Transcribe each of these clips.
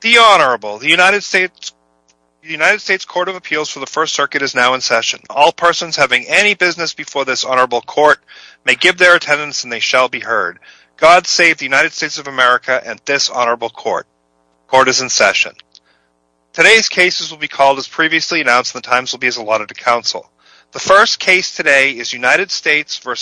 The Honorable, the United States Court of Appeals for the First Circuit is now in session. All persons having any business before this Honorable Court may give their attendance and they shall be heard. God save the United States of America and this Honorable Court. Court is in session. Today's cases will be called as previously announced and the times will be as allotted to counsel. The first case today is United States v.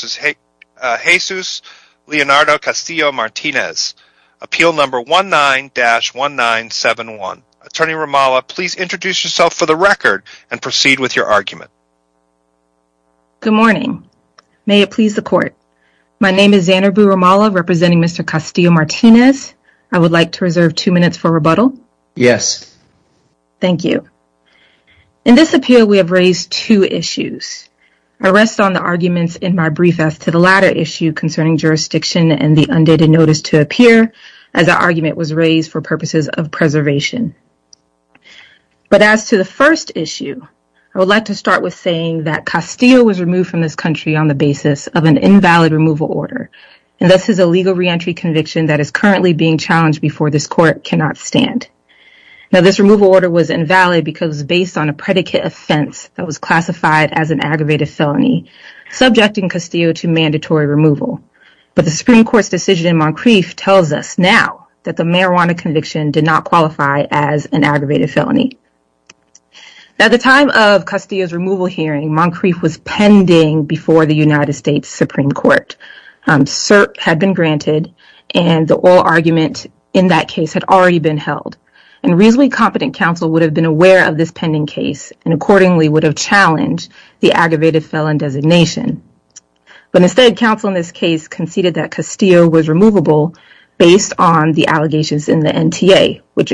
Jesus Leonardo Castillo-Martinez. Appeal number 19-1971. Attorney Romala, please introduce yourself for the record and proceed with your argument. Zanarboo Romala Good morning. May it please the Court. My name is Zanarboo Romala representing Mr. Castillo-Martinez. I would like to reserve two minutes for rebuttal. Attorney Romala Yes. Zanarboo Romala Thank you. In this appeal, we have raised two issues. I rest on the arguments in my brief as to the latter issue concerning jurisdiction and the undated notice to appear as the argument was raised for purposes of preservation. But as to the first issue, I would like to start with saying that Castillo was removed from this country on the basis of an invalid removal order and this is a legal reentry conviction that is currently being challenged before this Court cannot stand. Now, this removal order was invalid because it was based on a predicate offense that was classified as an aggravated felony subjecting Castillo to mandatory removal, but the Supreme Court's decision in Moncrief tells us now that the marijuana conviction did not qualify as an aggravated felony. Now, at the time of Castillo's removal hearing, Moncrief was pending before the United States Supreme Court. CERP had been granted and the oral argument in that case had already been held and a reasonably competent counsel would have been aware of this pending case and accordingly would have challenged the aggravated felon designation, but instead counsel in this case conceded that Castillo was removable based on the allegations in the NTA, which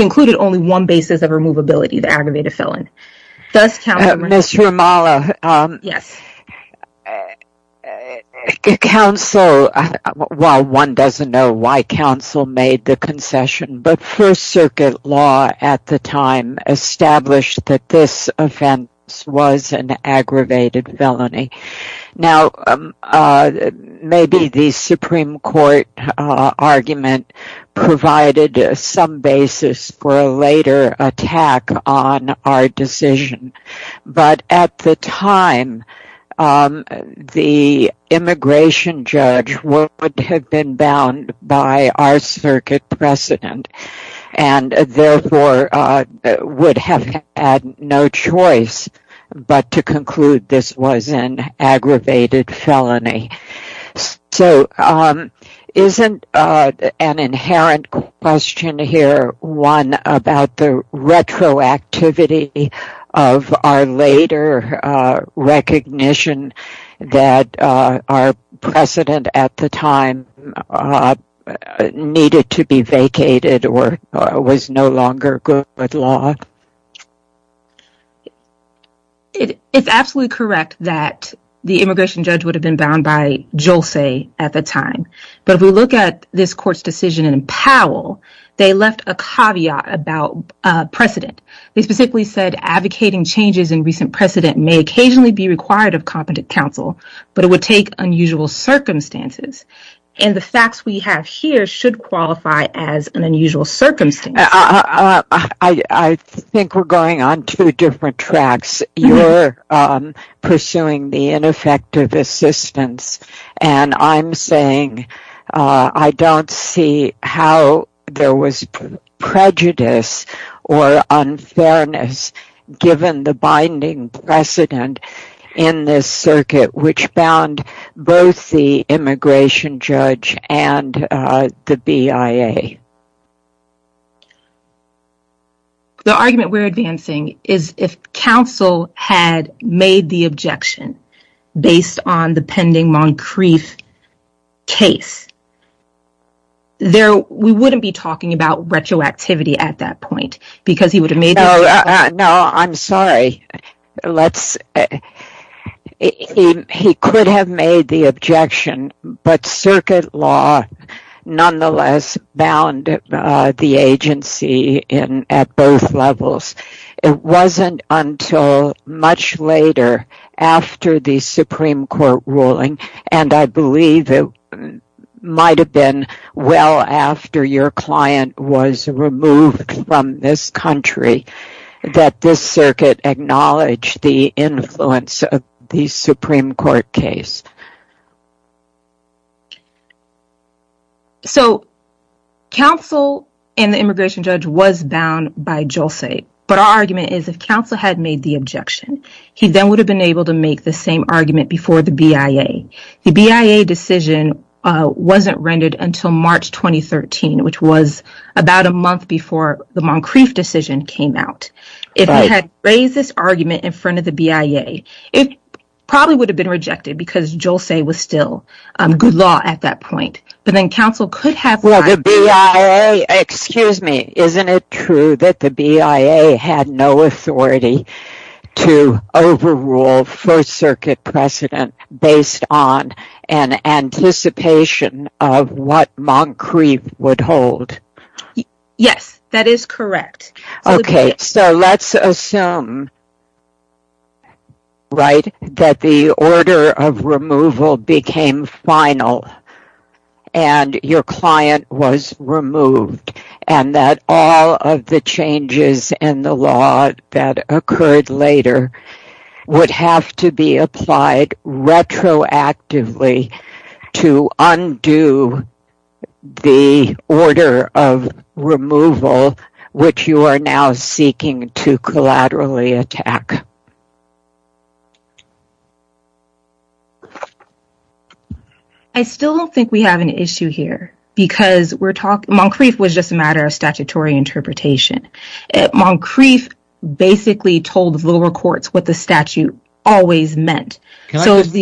included only one basis of removability, the aggravated felon. Thus, counsel... Ms. Ramallah... Yes. Counsel... Well, one doesn't know why counsel made the concession, but First Circuit law at the time established that this offense was an aggravated felony. Now, maybe the Supreme Court argument provided some basis for a later attack on our decision, but at the time, the immigration judge would have been bound by our circuit precedent and therefore would have had no choice but to conclude this was an aggravated felony. So, isn't an inherent question here one about the retroactivity of our later recognition that our precedent at the time needed to be vacated or was no longer good law? It's absolutely correct that the immigration judge would have been bound by Jolse at the time, but if we look at this court's decision in Powell, they left a caveat about precedent. They specifically said advocating changes in recent precedent may occasionally be required of competent counsel, but it would take unusual circumstances, and the facts we have here should qualify as an unusual circumstance. I think we're going on two different tracks. You're pursuing the ineffective assistance, and I'm saying I don't see how there was prejudice or unfairness given the binding precedent in this circuit which bound both the immigration judge and the BIA. The argument we're advancing is if counsel had made the objection based on the pending Moncrief case, we wouldn't be talking about retroactivity at that point. No, I'm sorry. He could have made the objection, but circuit law nonetheless bound the agency at both levels. It wasn't until much later after the Supreme Court ruling, and I believe it might have been well after your client was removed from this country, that this circuit acknowledged the influence of the Supreme Court case. So, counsel and the immigration judge was bound by Jolse, but our argument is if counsel had made the objection, he then would have been able to make the same argument before the BIA. The BIA decision wasn't rendered until March 2013, which was about a month before the Moncrief decision came out. If he had raised this argument in front of the BIA, it probably would have been rejected because Jolse would have been still good law at that point, but then counsel could have... Well, the BIA, excuse me, isn't it true that the BIA had no authority to overrule First Circuit precedent based on an anticipation of what Moncrief would hold? Yes, that is correct. Okay, so let's assume, right, that the order of removal became final and your client was removed, and that all of the changes in the law that occurred later would have to be applied retroactively to undo the order of removal which you are now seeking to collaterally attack. I still don't think we have an issue here because we're talking... Moncrief was just a matter of statutory interpretation. Moncrief basically told lower courts what the statute always meant. Can I just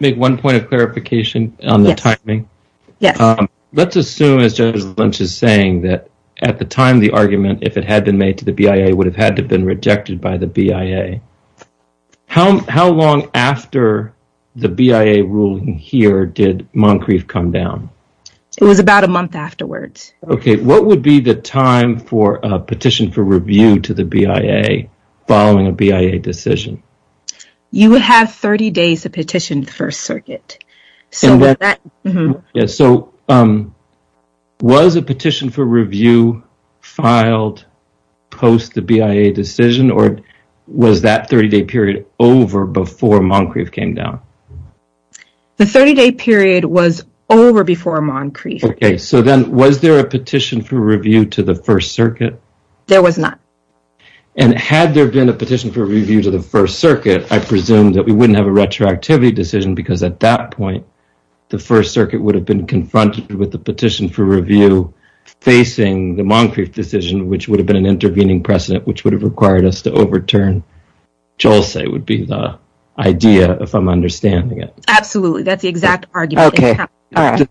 make one point of clarification on the timing? Yes. Let's assume, as Judge Lynch is saying, that at the time the argument, if it had been made to the BIA, would have had to been rejected by the BIA. How long after the BIA ruling here did Moncrief come down? It was about a month afterwards. Okay, what would be the time for a petition for review to the BIA following a BIA decision? You would have 30 days to petition the First Circuit. Yes, so was a petition for review filed post the BIA decision or was that 30-day period over before Moncrief came down? The 30-day period was over before Moncrief. Okay, so then was there a petition for review to the First Circuit? There was not. And had there been a petition for review to the First Circuit, I presume that we wouldn't have a retroactivity decision because at that point the First Circuit would have been confronted with the petition for review facing the Moncrief decision, which would have been an intervening precedent, which would have required us to overturn Jolse, would be the idea, if I'm understanding it. Absolutely, that's the exact argument. Okay, all right.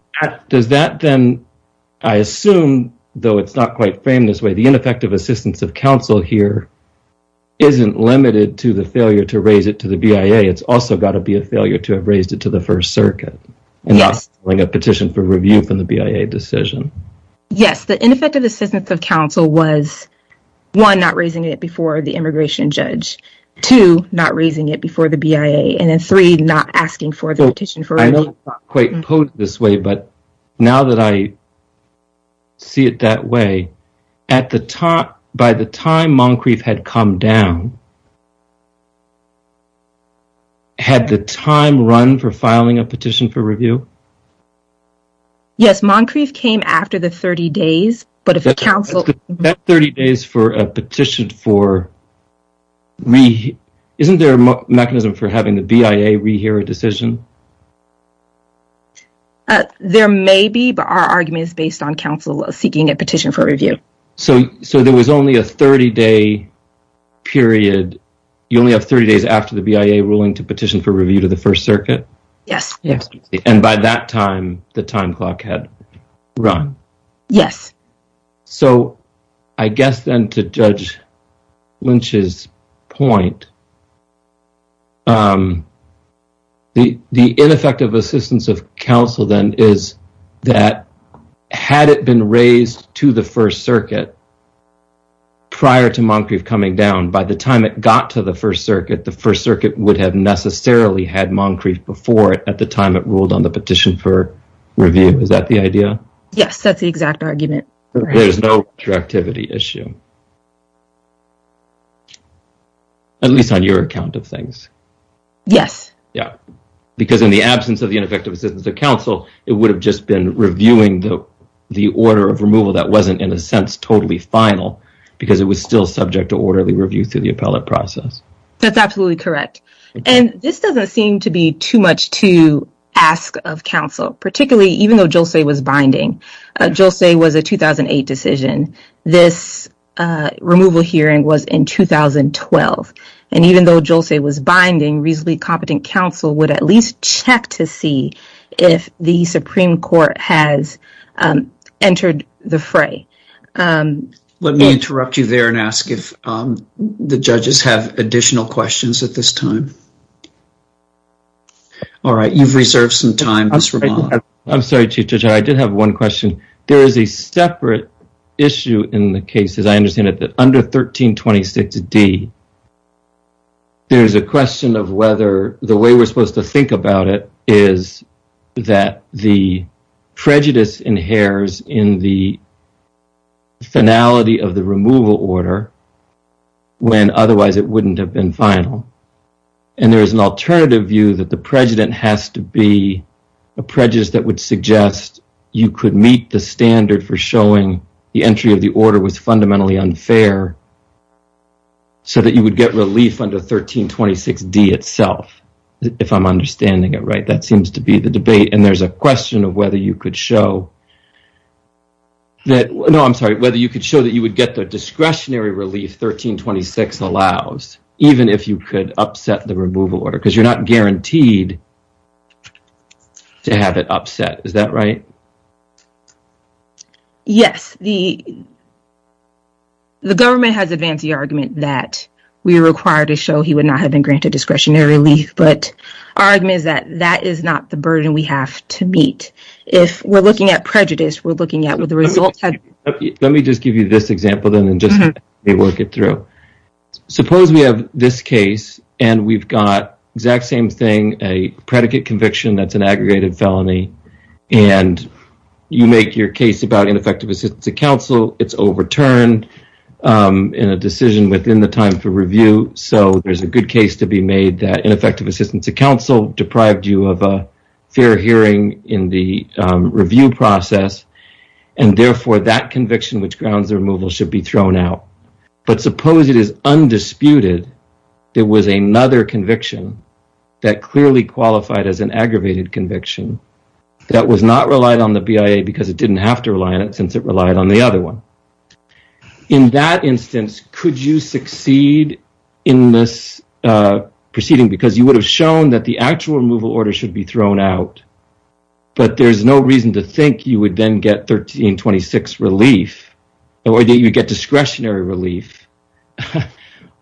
Does that then, I assume, though it's not quite framed this way, the ineffective assistance of counsel here isn't limited to the failure to raise it to the BIA. It's also got to be a failure to have raised it to the First Circuit and not filing a petition for review from the BIA decision. Yes, the ineffective assistance of counsel was, one, not raising it before the immigration judge, two, not raising it before the BIA, and then three, not asking for the petition for review. I know it's not quite posed this way, but now that I see it that way, at the time, by the time Moncrief had come down, had the time run for filing a petition for review? Yes, Moncrief came after the 30 days, but if a counsel... That 30 days for a petition for, isn't there a mechanism for having the BIA rehear a decision? There may be, but our argument is based on counsel seeking a petition for review. So, there was only a 30-day period, you only have 30 days after the BIA ruling to petition for review to the First Circuit? Yes. Yes, and by that time, the time clock had run. Yes. So, I guess then, to Judge Lynch's point, the ineffective assistance of counsel then is that had it been raised to the First Circuit prior to Moncrief coming down, by the time it got to the First Circuit, the First Circuit would have necessarily had Moncrief before it at the time it ruled on the petition for review. Is that the idea? Yes, that's the exact argument. There's no retroactivity issue. At least on your account of things. Yes. Yeah, because in the absence of the ineffective assistance of counsel, it would have just been reviewing the order of removal that wasn't, in a sense, totally final, because it was still subject to orderly review through the appellate process. That's absolutely correct, and this doesn't seem to be too much to ask of counsel, particularly even though Jolse was binding. Jolse was a 2008 decision. This removal hearing was in 2012, and even though Jolse was binding, reasonably competent counsel would at least check to see if the Supreme Court has entered the fray. Let me interrupt you there and ask if the judges have additional questions at this time. All right, you've reserved some time. I'm sorry, Chief Judge, I did have one question. There is a separate issue in the case, as I understand it, that under 1326D, there's a question of whether the way we're supposed to think about it is that the prejudice inheres in the finality of the removal order when otherwise it wouldn't have been final, and there is an alternative view that the standard for showing the entry of the order was fundamentally unfair so that you would get relief under 1326D itself, if I'm understanding it right. That seems to be the debate, and there's a question of whether you could show that, no, I'm sorry, whether you could show that you would get the discretionary relief 1326 allows, even if you could upset the removal order, because you're not guaranteed to have it upset. Is that right? Yes, the government has advanced the argument that we are required to show he would not have been granted discretionary relief, but our argument is that that is not the burden we have to meet. If we're looking at prejudice, we're looking at what the results have been. Let me just give you this example, then, and just work it through. Suppose we have this case, and we've got the exact same thing, a predicate conviction that's an aggregated felony, and you make your case about ineffective assistance of counsel. It's overturned in a decision within the time for review, so there's a good case to be made that ineffective assistance of counsel deprived you of a fair hearing in the review process, and therefore, that conviction which grounds the removal should be thrown out, but suppose it is undisputed there was another conviction that clearly qualified as an indisputable conviction that was not relied on the BIA, because it didn't have to rely on it, since it relied on the other one. In that instance, could you succeed in this proceeding, because you would have shown that the actual removal order should be thrown out, but there's no reason to think you would then get 1326 relief, or that you'd get discretionary relief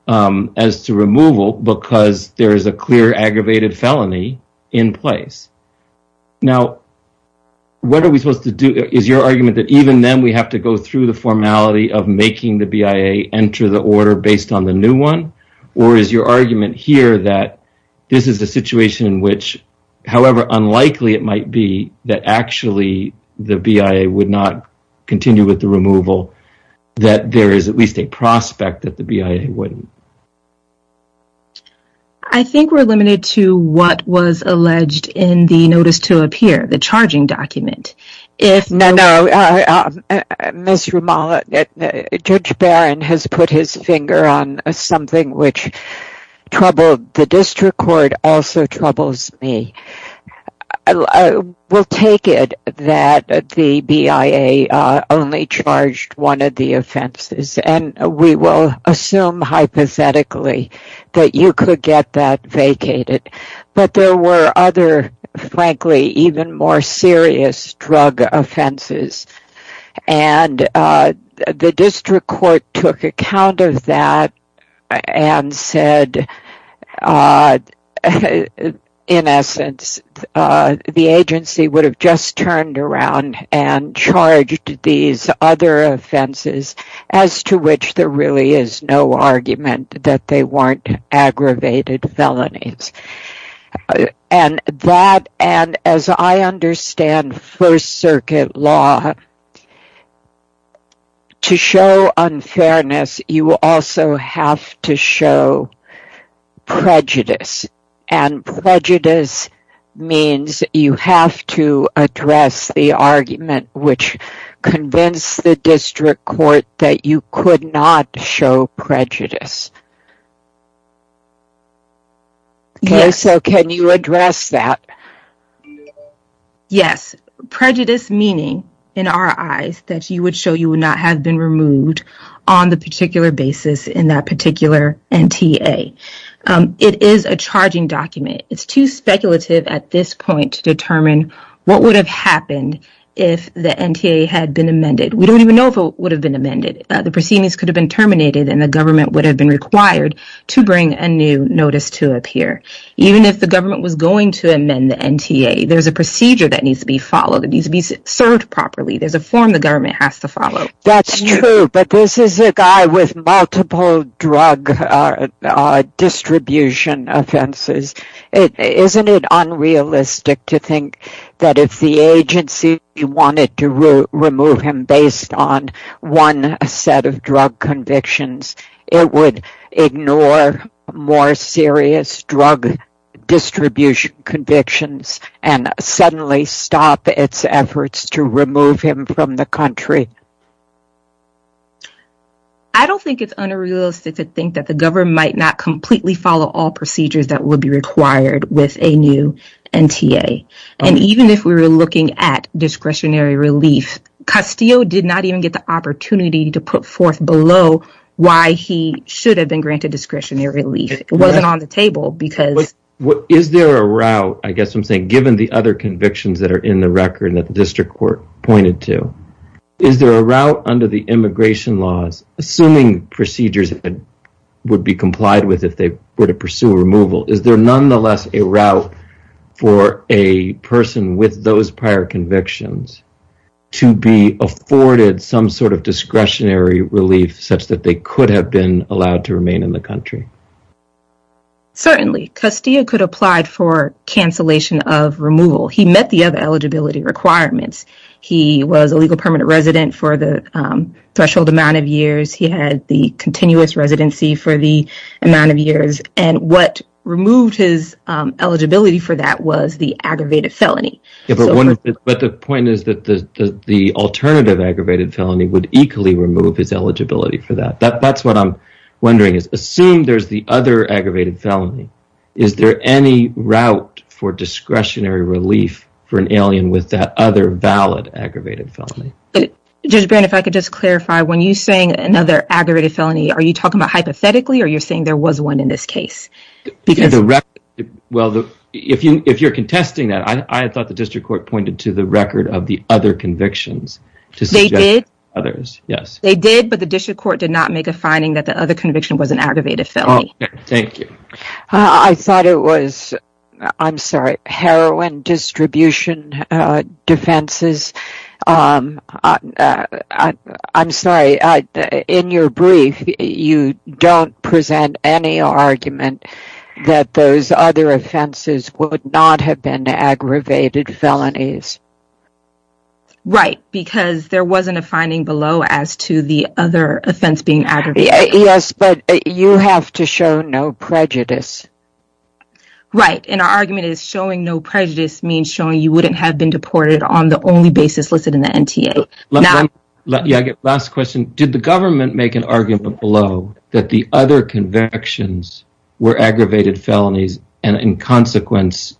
as to removal, because there is a clear aggravated felony in place. Now, what are we supposed to do? Is your argument that even then, we have to go through the formality of making the BIA enter the order based on the new one, or is your argument here that this is a situation in which, however unlikely it might be, that actually the BIA would not continue with the removal, that there is at least a prospect that the BIA wouldn't? I think we're limited to what was alleged in the Notice to Appear, the charging document. No, no, Ms. Ramal, Judge Barron has put his finger on something which troubled the district court, also troubles me. We'll take it that the BIA only charged one of the offenses, and we will assume hypothetically that you could get that vacated, but there were other, frankly, even more serious drug offenses, and the district court took account of that and said, in essence, the agency would have just turned around and charged these other offenses, as to which there is no argument that they weren't aggravated felonies. As I understand First Circuit law, to show unfairness, you also have to show prejudice, and prejudice means you have to address the argument which convinced the district court that you could not show prejudice. So can you address that? Yes, prejudice meaning, in our eyes, that you would show you would not have been removed on the particular basis in that particular NTA. It is a charging document. It's too speculative at this point to determine what would have happened if the NTA had been amended. The proceedings could have been terminated, and the government would have been required to bring a new notice to appear. Even if the government was going to amend the NTA, there's a procedure that needs to be followed. It needs to be served properly. There's a form the government has to follow. That's true, but this is a guy with multiple drug distribution offenses. Isn't it unrealistic to think that if the agency wanted to remove him based on one set of drug convictions, it would ignore more serious drug distribution convictions and suddenly stop its efforts to remove him from the country? I don't think it's unrealistic to think that the government might not completely follow all procedures that would be required with a new NTA. Even if we were looking at discretionary relief, Castillo did not even get the opportunity to put forth below why he should have been granted discretionary relief. It wasn't on the table because- Is there a route, I guess I'm saying, given the other convictions that are in the record that the district court pointed to, is there a route under the immigration laws, assuming procedures that would be complied with if they were to pursue removal, is there nonetheless a route for a person with those prior convictions to be afforded some sort of discretionary relief such that they could have been allowed to remain in the country? Certainly. Castillo could apply for cancellation of removal. He met the other eligibility requirements. He was a legal permanent resident for the threshold amount of years. He had the continuous residency for the amount of years. What removed his eligibility for that was the aggravated felony. The point is that the alternative aggravated felony would equally remove his eligibility for that. That's what I'm wondering is, assume there's the other aggravated felony, is there any route for discretionary relief for an alien with that other valid aggravated felony? Judge Brand, if I could just clarify, when you're saying another aggravated felony, are you talking about hypothetically or you're saying there was one in this case? Well, if you're contesting that, I thought the district court pointed to the record of the other convictions to suggest others, yes. They did, but the district court did not make a finding that the other conviction was an aggravated felony. Thank you. I thought it was, I'm sorry, heroin distribution defenses. I'm sorry, in your brief, you don't present any argument that those other offenses would not have been aggravated felonies. Right, because there wasn't a finding below as to the other offense being aggravated. Yes, but you have to show no prejudice. Right, and our argument is showing no prejudice means showing you wouldn't have been deported on the only basis listed in the NTA. Last question. Did the government make an argument below that the other convictions were aggravated felonies and in consequence,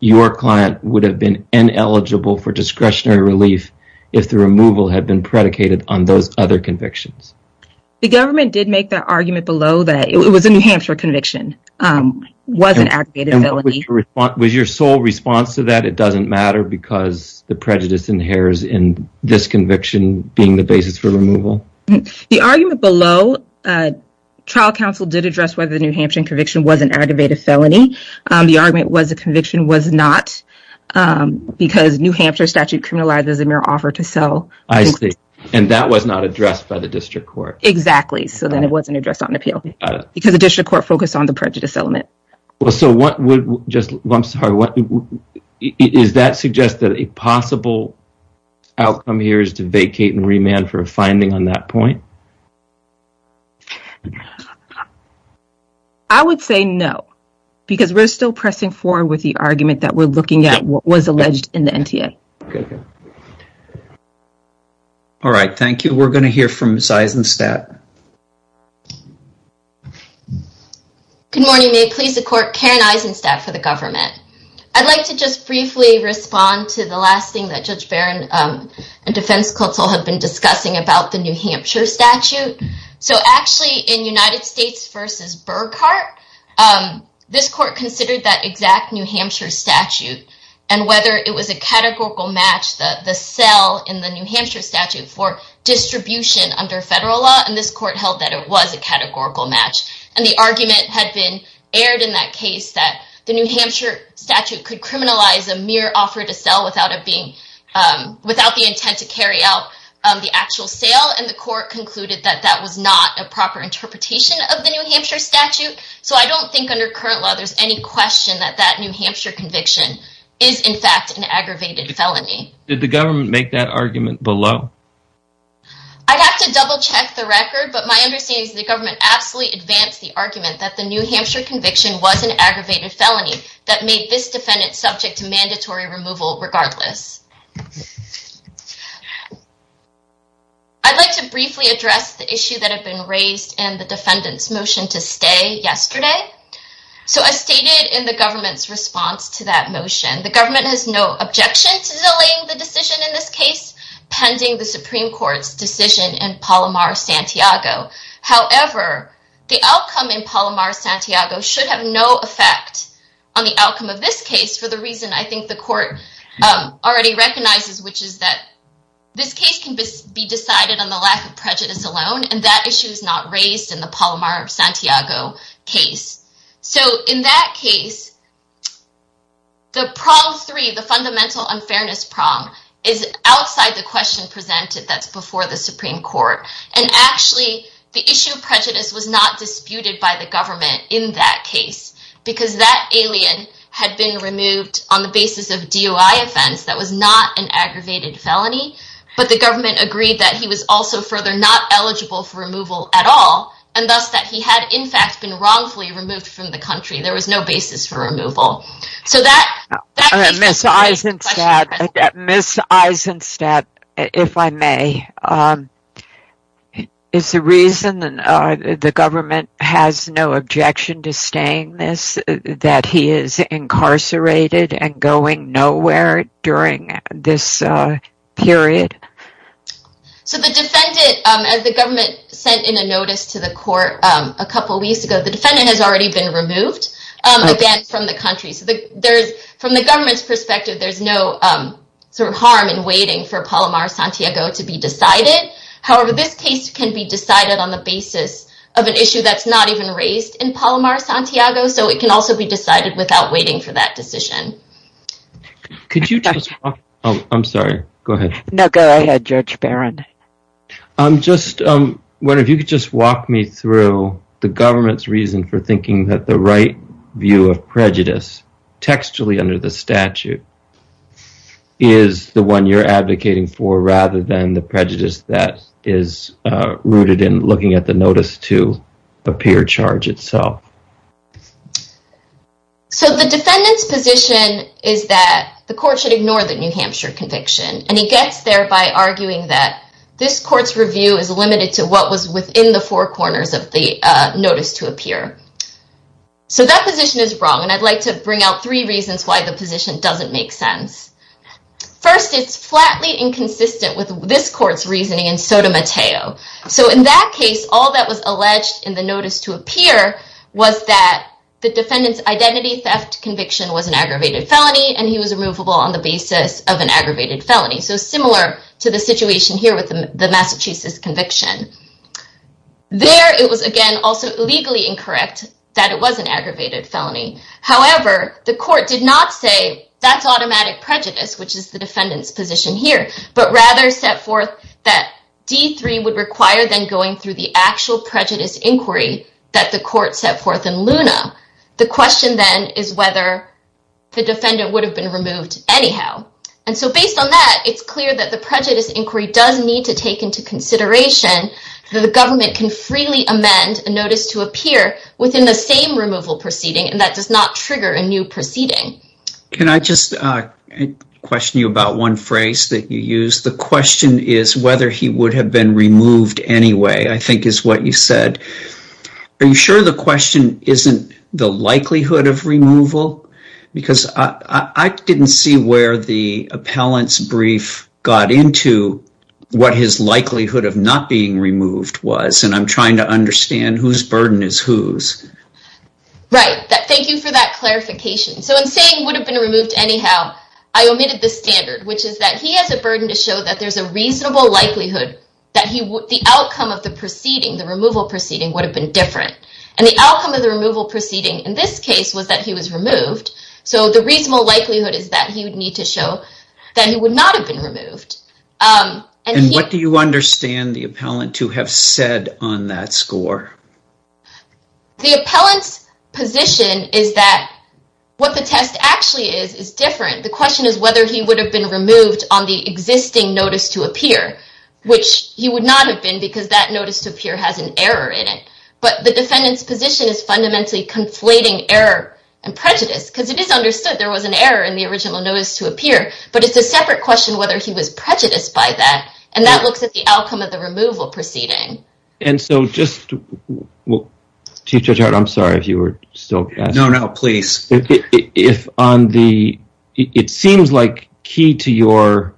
your client would have been ineligible for discretionary relief if the removal had been predicated on those other convictions? The government did make that argument below that it was a New Hampshire conviction, was an aggravated felony. Was your sole response to that, it doesn't matter because the prejudice inheres in this conviction being the basis for removal? The argument below, trial counsel did address whether the New Hampshire conviction was an aggravated felony. The argument was the conviction was not because New Hampshire statute criminalizes a mere offer to sell. And that was not addressed by the district court. Exactly. So then it wasn't addressed on appeal because the district court focused on the prejudice element. Well, so what would just, I'm sorry, is that suggest that a possible outcome here is to vacate and remand for a finding on that point? I would say no, because we're still pressing forward with the argument that we're looking at what was alleged in the NTA. All right. Thank you. We're going to hear from Ms. Eisenstadt. Good morning. May it please the court, Karen Eisenstadt for the government. I'd like to just briefly respond to the last thing that Judge Barron and defense counsel have been discussing about the New Hampshire statute. So actually in United States versus Burkhart, this court considered that exact New Hampshire statute and whether it was a categorical match, the cell in the New Hampshire statute for distribution under federal law. And this court held that it was a categorical match. And the argument had been aired in that case that the New Hampshire statute could criminalize a mere offer to sell without the intent to carry out the actual sale. And the court concluded that that was not a proper interpretation of the New Hampshire statute. So I don't think under current law, there's any question that that New Hampshire conviction is in fact an aggravated felony. Did the government make that argument below? I'd have to double check the record. But my understanding is the government absolutely advanced the argument that the New Hampshire conviction was an aggravated felony that made this defendant subject to mandatory removal regardless. I'd like to briefly address the issue that had been raised and the defendant's motion to stay yesterday. So as stated in the government's response to that motion, the government has no objection to delaying the decision in this case pending the Supreme Court's decision in Palomar-Santiago. However, the outcome in Palomar-Santiago should have no effect on the outcome of this case for the reason I think the court already recognizes, which is that this case can be decided on the lack of prejudice alone. And that issue is not raised in the Palomar-Santiago case. So in that case, the problem three, the fundamental unfairness problem is outside the question presented that's before the Supreme Court. And actually, the issue of prejudice was not disputed by the government in that case, because that alien had been removed on the basis of DOI offense that was not an aggravated felony. But the government agreed that he was also further not eligible for removal at all. And thus, that he had, in fact, been wrongfully removed from the country. There was no basis for removal. So that... Ms. Eisenstadt, if I may, is the reason that the government has no objection to staying that he is incarcerated and going nowhere during this period? So the defendant, as the government sent in a notice to the court a couple weeks ago, the defendant has already been removed from the country. So from the government's perspective, there's no harm in waiting for Palomar-Santiago to be decided. However, this case can be decided on the basis of an issue that's not even raised in Palomar-Santiago. So it can also be decided without waiting for that decision. Could you just walk... Oh, I'm sorry. Go ahead. No, go ahead, Judge Barron. I'm just wondering if you could just walk me through the government's reason for thinking that the right view of prejudice, textually under the statute, is the one you're advocating for rather than the prejudice that is rooted in looking at the notice to appear charge itself. So the defendant's position is that the court should ignore the New Hampshire conviction, and he gets there by arguing that this court's review is limited to what was within the four corners of the notice to appear. So that position is wrong, and I'd like to bring out three reasons why the position doesn't make sense. First, it's flatly inconsistent with this court's reasoning and Sotomayor. So in that case, all that was alleged in the notice to appear was that the defendant's identity theft conviction was an aggravated felony, and he was removable on the basis of an aggravated felony. So similar to the situation here with the Massachusetts conviction. There, it was, again, also legally incorrect that it was an aggravated felony. However, the court did not say that's automatic prejudice, which is the defendant's position here, but rather set forth that D3 would require then going through the actual prejudice inquiry that the court set forth in Luna. The question then is whether the defendant would have been removed anyhow. And so based on that, it's clear that the prejudice inquiry does need to take into consideration that the government can freely amend a notice to appear within the same removal proceeding, and that does not trigger a new proceeding. Can I just question you about one phrase that you used? The question is whether he would have been removed anyway, I think is what you said. Are you sure the question isn't the likelihood of removal? Because I didn't see where the appellant's brief got into what his likelihood of not being removed was, and I'm trying to understand whose burden is whose. Right. Thank you for that clarification. So in saying would have been removed anyhow, I omitted the standard, which is that he has a burden to show that there's a reasonable likelihood that the outcome of the proceeding, the removal proceeding, would have been different. And the outcome of the removal proceeding in this case was that he was removed, so the reasonable likelihood is that he would need to show that he would not have been removed. And what do you understand the appellant to have said on that score? The appellant's position is that what the test actually is is different. The question is whether he would have been removed on the existing notice to appear, which he would not have been because that notice to appear has an error in it. But the defendant's position is fundamentally conflating error and prejudice, because it is understood there was an error in the original notice to appear, but it's a separate question whether he was prejudiced by that, and that looks at the outcome of the removal proceeding. And so just... Chief Judge Hart, I'm sorry if you were still... No, no, please. It seems like key to your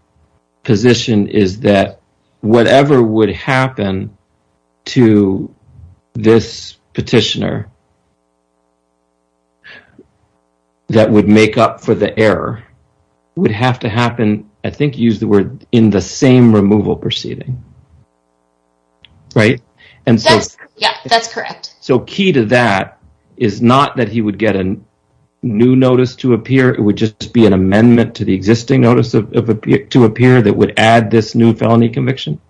position is that whatever would happen to this petitioner that would make up for the error would have to happen, I think you used the word, in the same removal proceeding. And so... Yeah, that's correct. So key to that is not that he would get a new notice to appear, it would just be an amendment to the existing notice to appear that would add this new felony conviction?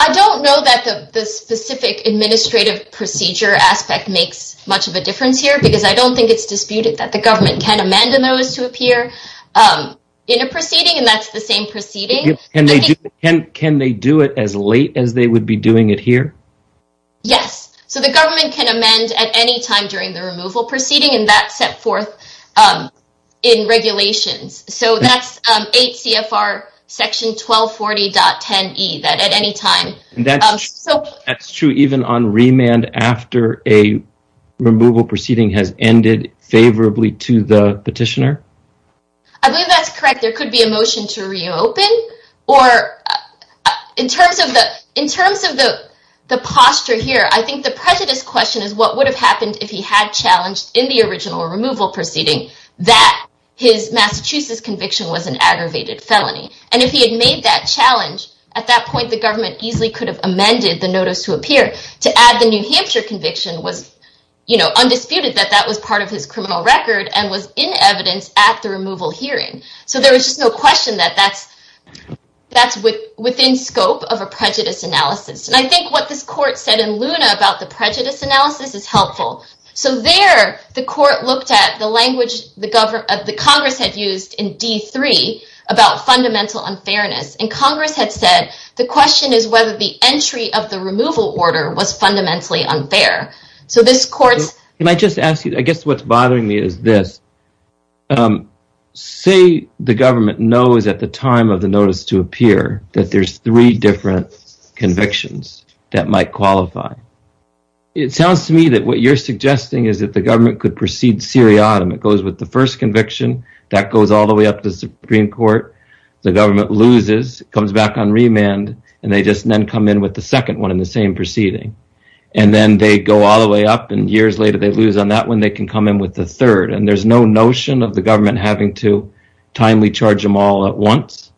I don't know that the specific administrative procedure aspect makes much of a difference here, because I don't think it's disputed that the government can amend a notice to appear in a proceeding, and that's the same proceeding. Can they do it as late as they would be doing it here? Yes. So the government can amend at any time during the removal proceeding, and that's set forth in regulations. So that's 8 CFR section 1240.10e, that at any time... That's true even on remand after a removal proceeding has ended favorably to the petitioner? I believe that's correct. There could be a motion to reopen, or in terms of the posture here, I think the prejudice question is what would have happened if he had challenged in the original removal proceeding that his Massachusetts conviction was an aggravated felony? And if he had made that challenge, at that point, the government easily could have amended the notice to appear to add the New Hampshire conviction was undisputed that that was part of his criminal record and was in evidence at the removal hearing. So there was just no question that that's within scope of a prejudice analysis. And I think what this court said in Luna about the prejudice analysis is helpful. So there, the court looked at the language the Congress had used in D3 about fundamental unfairness, and Congress had said the question is whether the entry of the removal order was fundamentally unfair. So this court's... Can I just ask you, I guess what's bothering me is this. Say the government knows at the time of the notice to appear that there's three different convictions that might qualify. It sounds to me that what you're suggesting is that the government could proceed seriatim. It goes with the first conviction, that goes all the way up to the Supreme Court, the government loses, comes back on remand, and they just then come in with the second one in the same proceeding. And then they go all the way up, and years later, they lose on that one, they can come in with the third. And there's no notion of the government having to timely charge them all at once?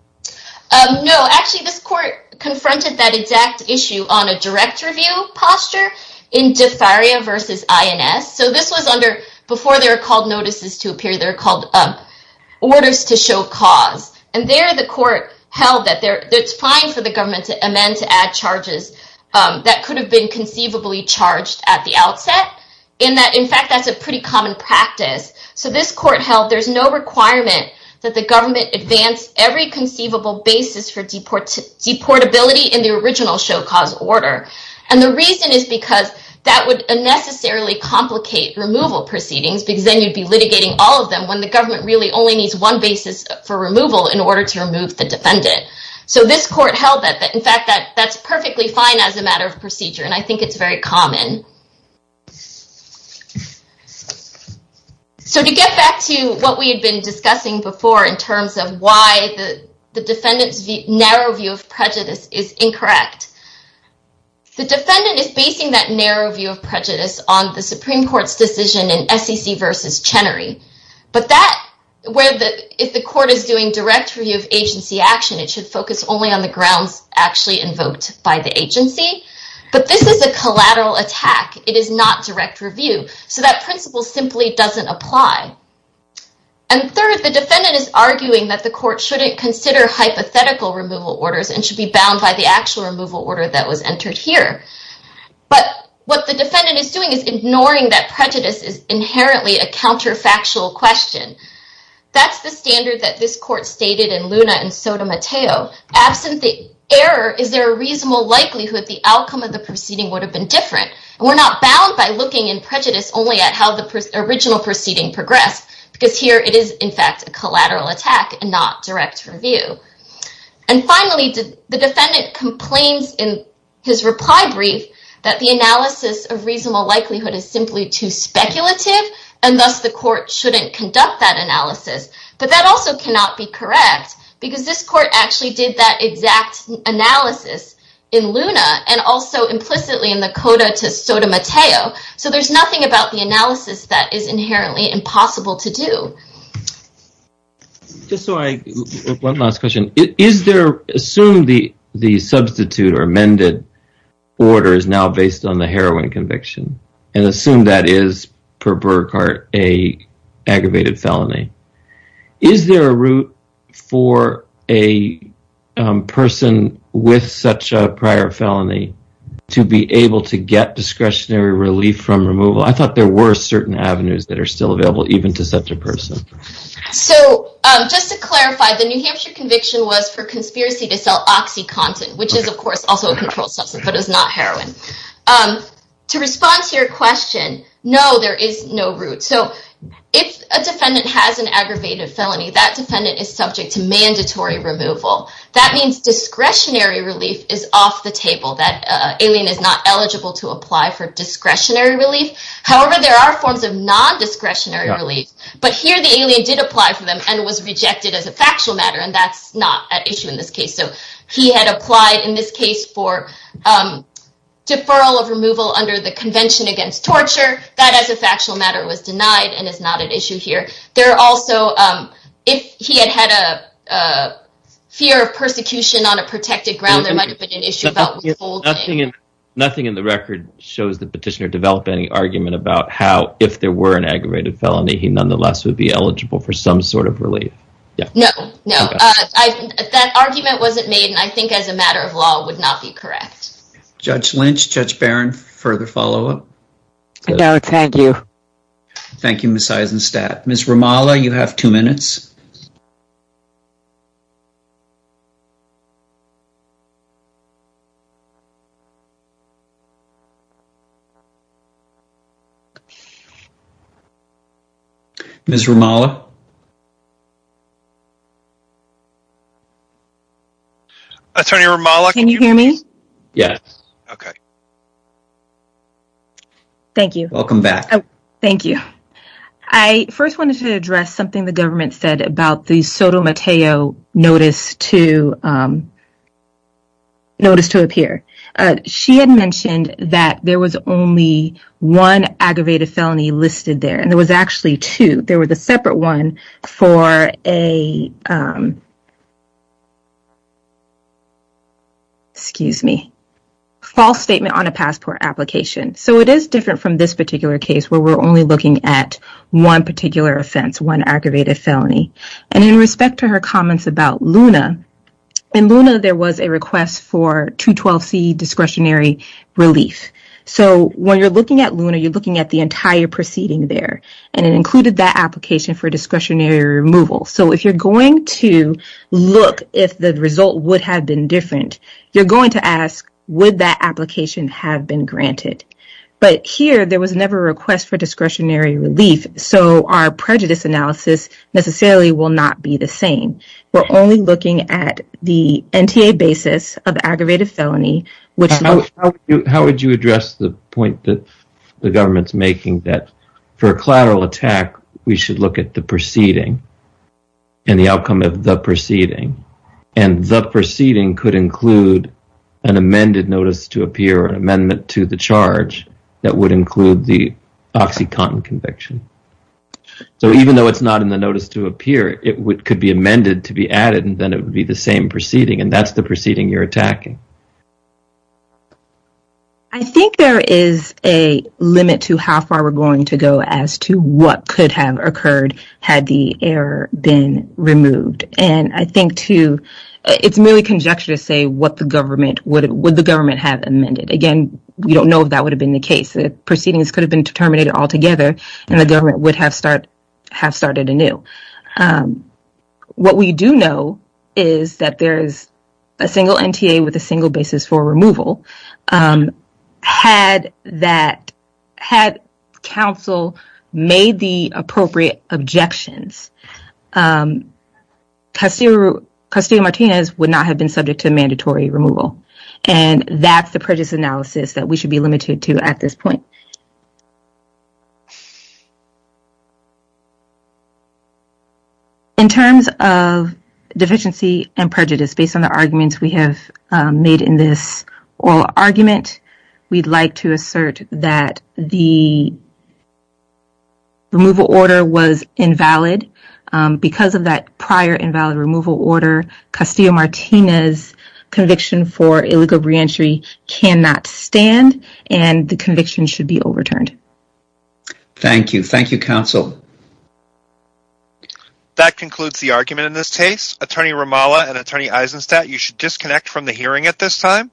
No, actually, this court confronted that exact issue on a direct review posture in DeFaria versus INS. So this was under... Before they were called notices to appear, they were called orders to show cause. And there, the court held that it's fine for the government to amend, to add charges that could have been conceivably charged at the outset, in that, in fact, that's a pretty common practice. So this court held there's no requirement that the government advance every conceivable basis for deportability in the original show cause order. And the reason is because that would unnecessarily complicate removal proceedings, because then you'd be litigating all of them when the government really only needs one basis for removal in order to remove the defendant. So this court held that, in fact, that that's perfectly fine as a matter of procedure, and I think it's very common. So to get back to what we had been discussing before in terms of why the defendant's narrow view of prejudice is incorrect, the defendant is basing that narrow view of prejudice on the Supreme Court's decision in SEC versus Chenery. But that... If the court is doing direct review of agency action, it should focus only on the grounds actually invoked by the agency. But this is a collateral attack. It is not direct review. So that principle simply doesn't apply. And third, the defendant is arguing that the court shouldn't consider hypothetical removal orders and should be bound by the actual removal order that was entered here. But what the defendant is doing is ignoring that prejudice is inherently a counterfactual question. That's the standard that this court stated in Luna and Sotomayor. Absent the error, is there a reasonable likelihood the outcome of the proceeding would have been different? We're not bound by looking in prejudice only at how the original proceeding progressed, because here it is, in fact, a collateral attack and not direct review. And finally, the defendant complains in his reply brief that the analysis of reasonable likelihood is simply too speculative, and thus the court shouldn't conduct that analysis. But that also cannot be correct, because this court actually did that exact analysis in Sotomayor. So there's nothing about the analysis that is inherently impossible to do. One last question. Assume the substitute or amended order is now based on the heroin conviction, and assume that is, per Burkhart, an aggravated felony. Is there a route for a person with such a prior felony to be able to get discretionary relief from removal? I thought there were certain avenues that are still available, even to such a person. So just to clarify, the New Hampshire conviction was for conspiracy to sell oxycontin, which is, of course, also a controlled substance, but is not heroin. To respond to your question, no, there is no route. So if a defendant has an aggravated felony, that defendant is subject to mandatory removal. That means discretionary relief is off the table. That alien is not eligible to apply for discretionary relief. However, there are forms of non-discretionary relief. But here, the alien did apply for them and was rejected as a factual matter, and that's not an issue in this case. So he had applied in this case for deferral of removal under the Convention Against Torture. That, as a factual matter, was denied and is not an issue here. If he had had a fear of persecution on a protected ground, there might have been an issue about withholding. Nothing in the record shows the petitioner developed any argument about how, if there were an aggravated felony, he nonetheless would be eligible for some sort of relief. No, no. That argument wasn't made, and I think, as a matter of law, would not be correct. Judge Lynch, Judge Barron, further follow-up? No, thank you. Thank you, Ms. Eisenstadt. Ms. Romala, you have two minutes. Ms. Romala? Attorney Romala, can you hear me? Yes. Okay. Thank you. Welcome back. Oh, thank you. I first wanted to address something the government said about the Sotomayor notice to appear. She had mentioned that there was only one aggravated felony listed there, and there was actually two. There was a separate one for a, excuse me, false statement. On a passport application. So it is different from this particular case, where we're only looking at one particular offense, one aggravated felony. And in respect to her comments about Luna, in Luna, there was a request for 212C discretionary relief. So when you're looking at Luna, you're looking at the entire proceeding there, and it included that application for discretionary removal. So if you're going to look if the result would have been different, you're going to Would that application have been granted? But here, there was never a request for discretionary relief. So our prejudice analysis necessarily will not be the same. We're only looking at the NTA basis of aggravated felony, which- How would you address the point that the government's making that for a collateral attack, we should look at the proceeding and the outcome of the proceeding? And the proceeding could include an amended notice to appear, an amendment to the charge that would include the OxyContin conviction. So even though it's not in the notice to appear, it could be amended to be added, and then it would be the same proceeding. And that's the proceeding you're attacking. I think there is a limit to how far we're going to go as to what could have occurred had the error been removed. And I think, too, it's merely conjecture to say what the government would- would the government have amended. Again, we don't know if that would have been the case. The proceedings could have been terminated altogether, and the government would have start- have started anew. What we do know is that there is a single NTA with a single basis for removal. Had that- had counsel made the appropriate objections, Castillo- Castillo-Martinez would not have been subject to mandatory removal. And that's the prejudice analysis that we should be limited to at this point. In terms of deficiency and prejudice, based on the arguments we have made in this oral argument, we'd like to assert that the removal order was invalid. Because of that prior invalid removal order, Castillo-Martinez's conviction for illegal reentry cannot stand, and the conviction should be overturned. Thank you. Thank you, counsel. That concludes the argument in this case. Attorney Ramallah and Attorney Eisenstadt, you should disconnect from the hearing at this time.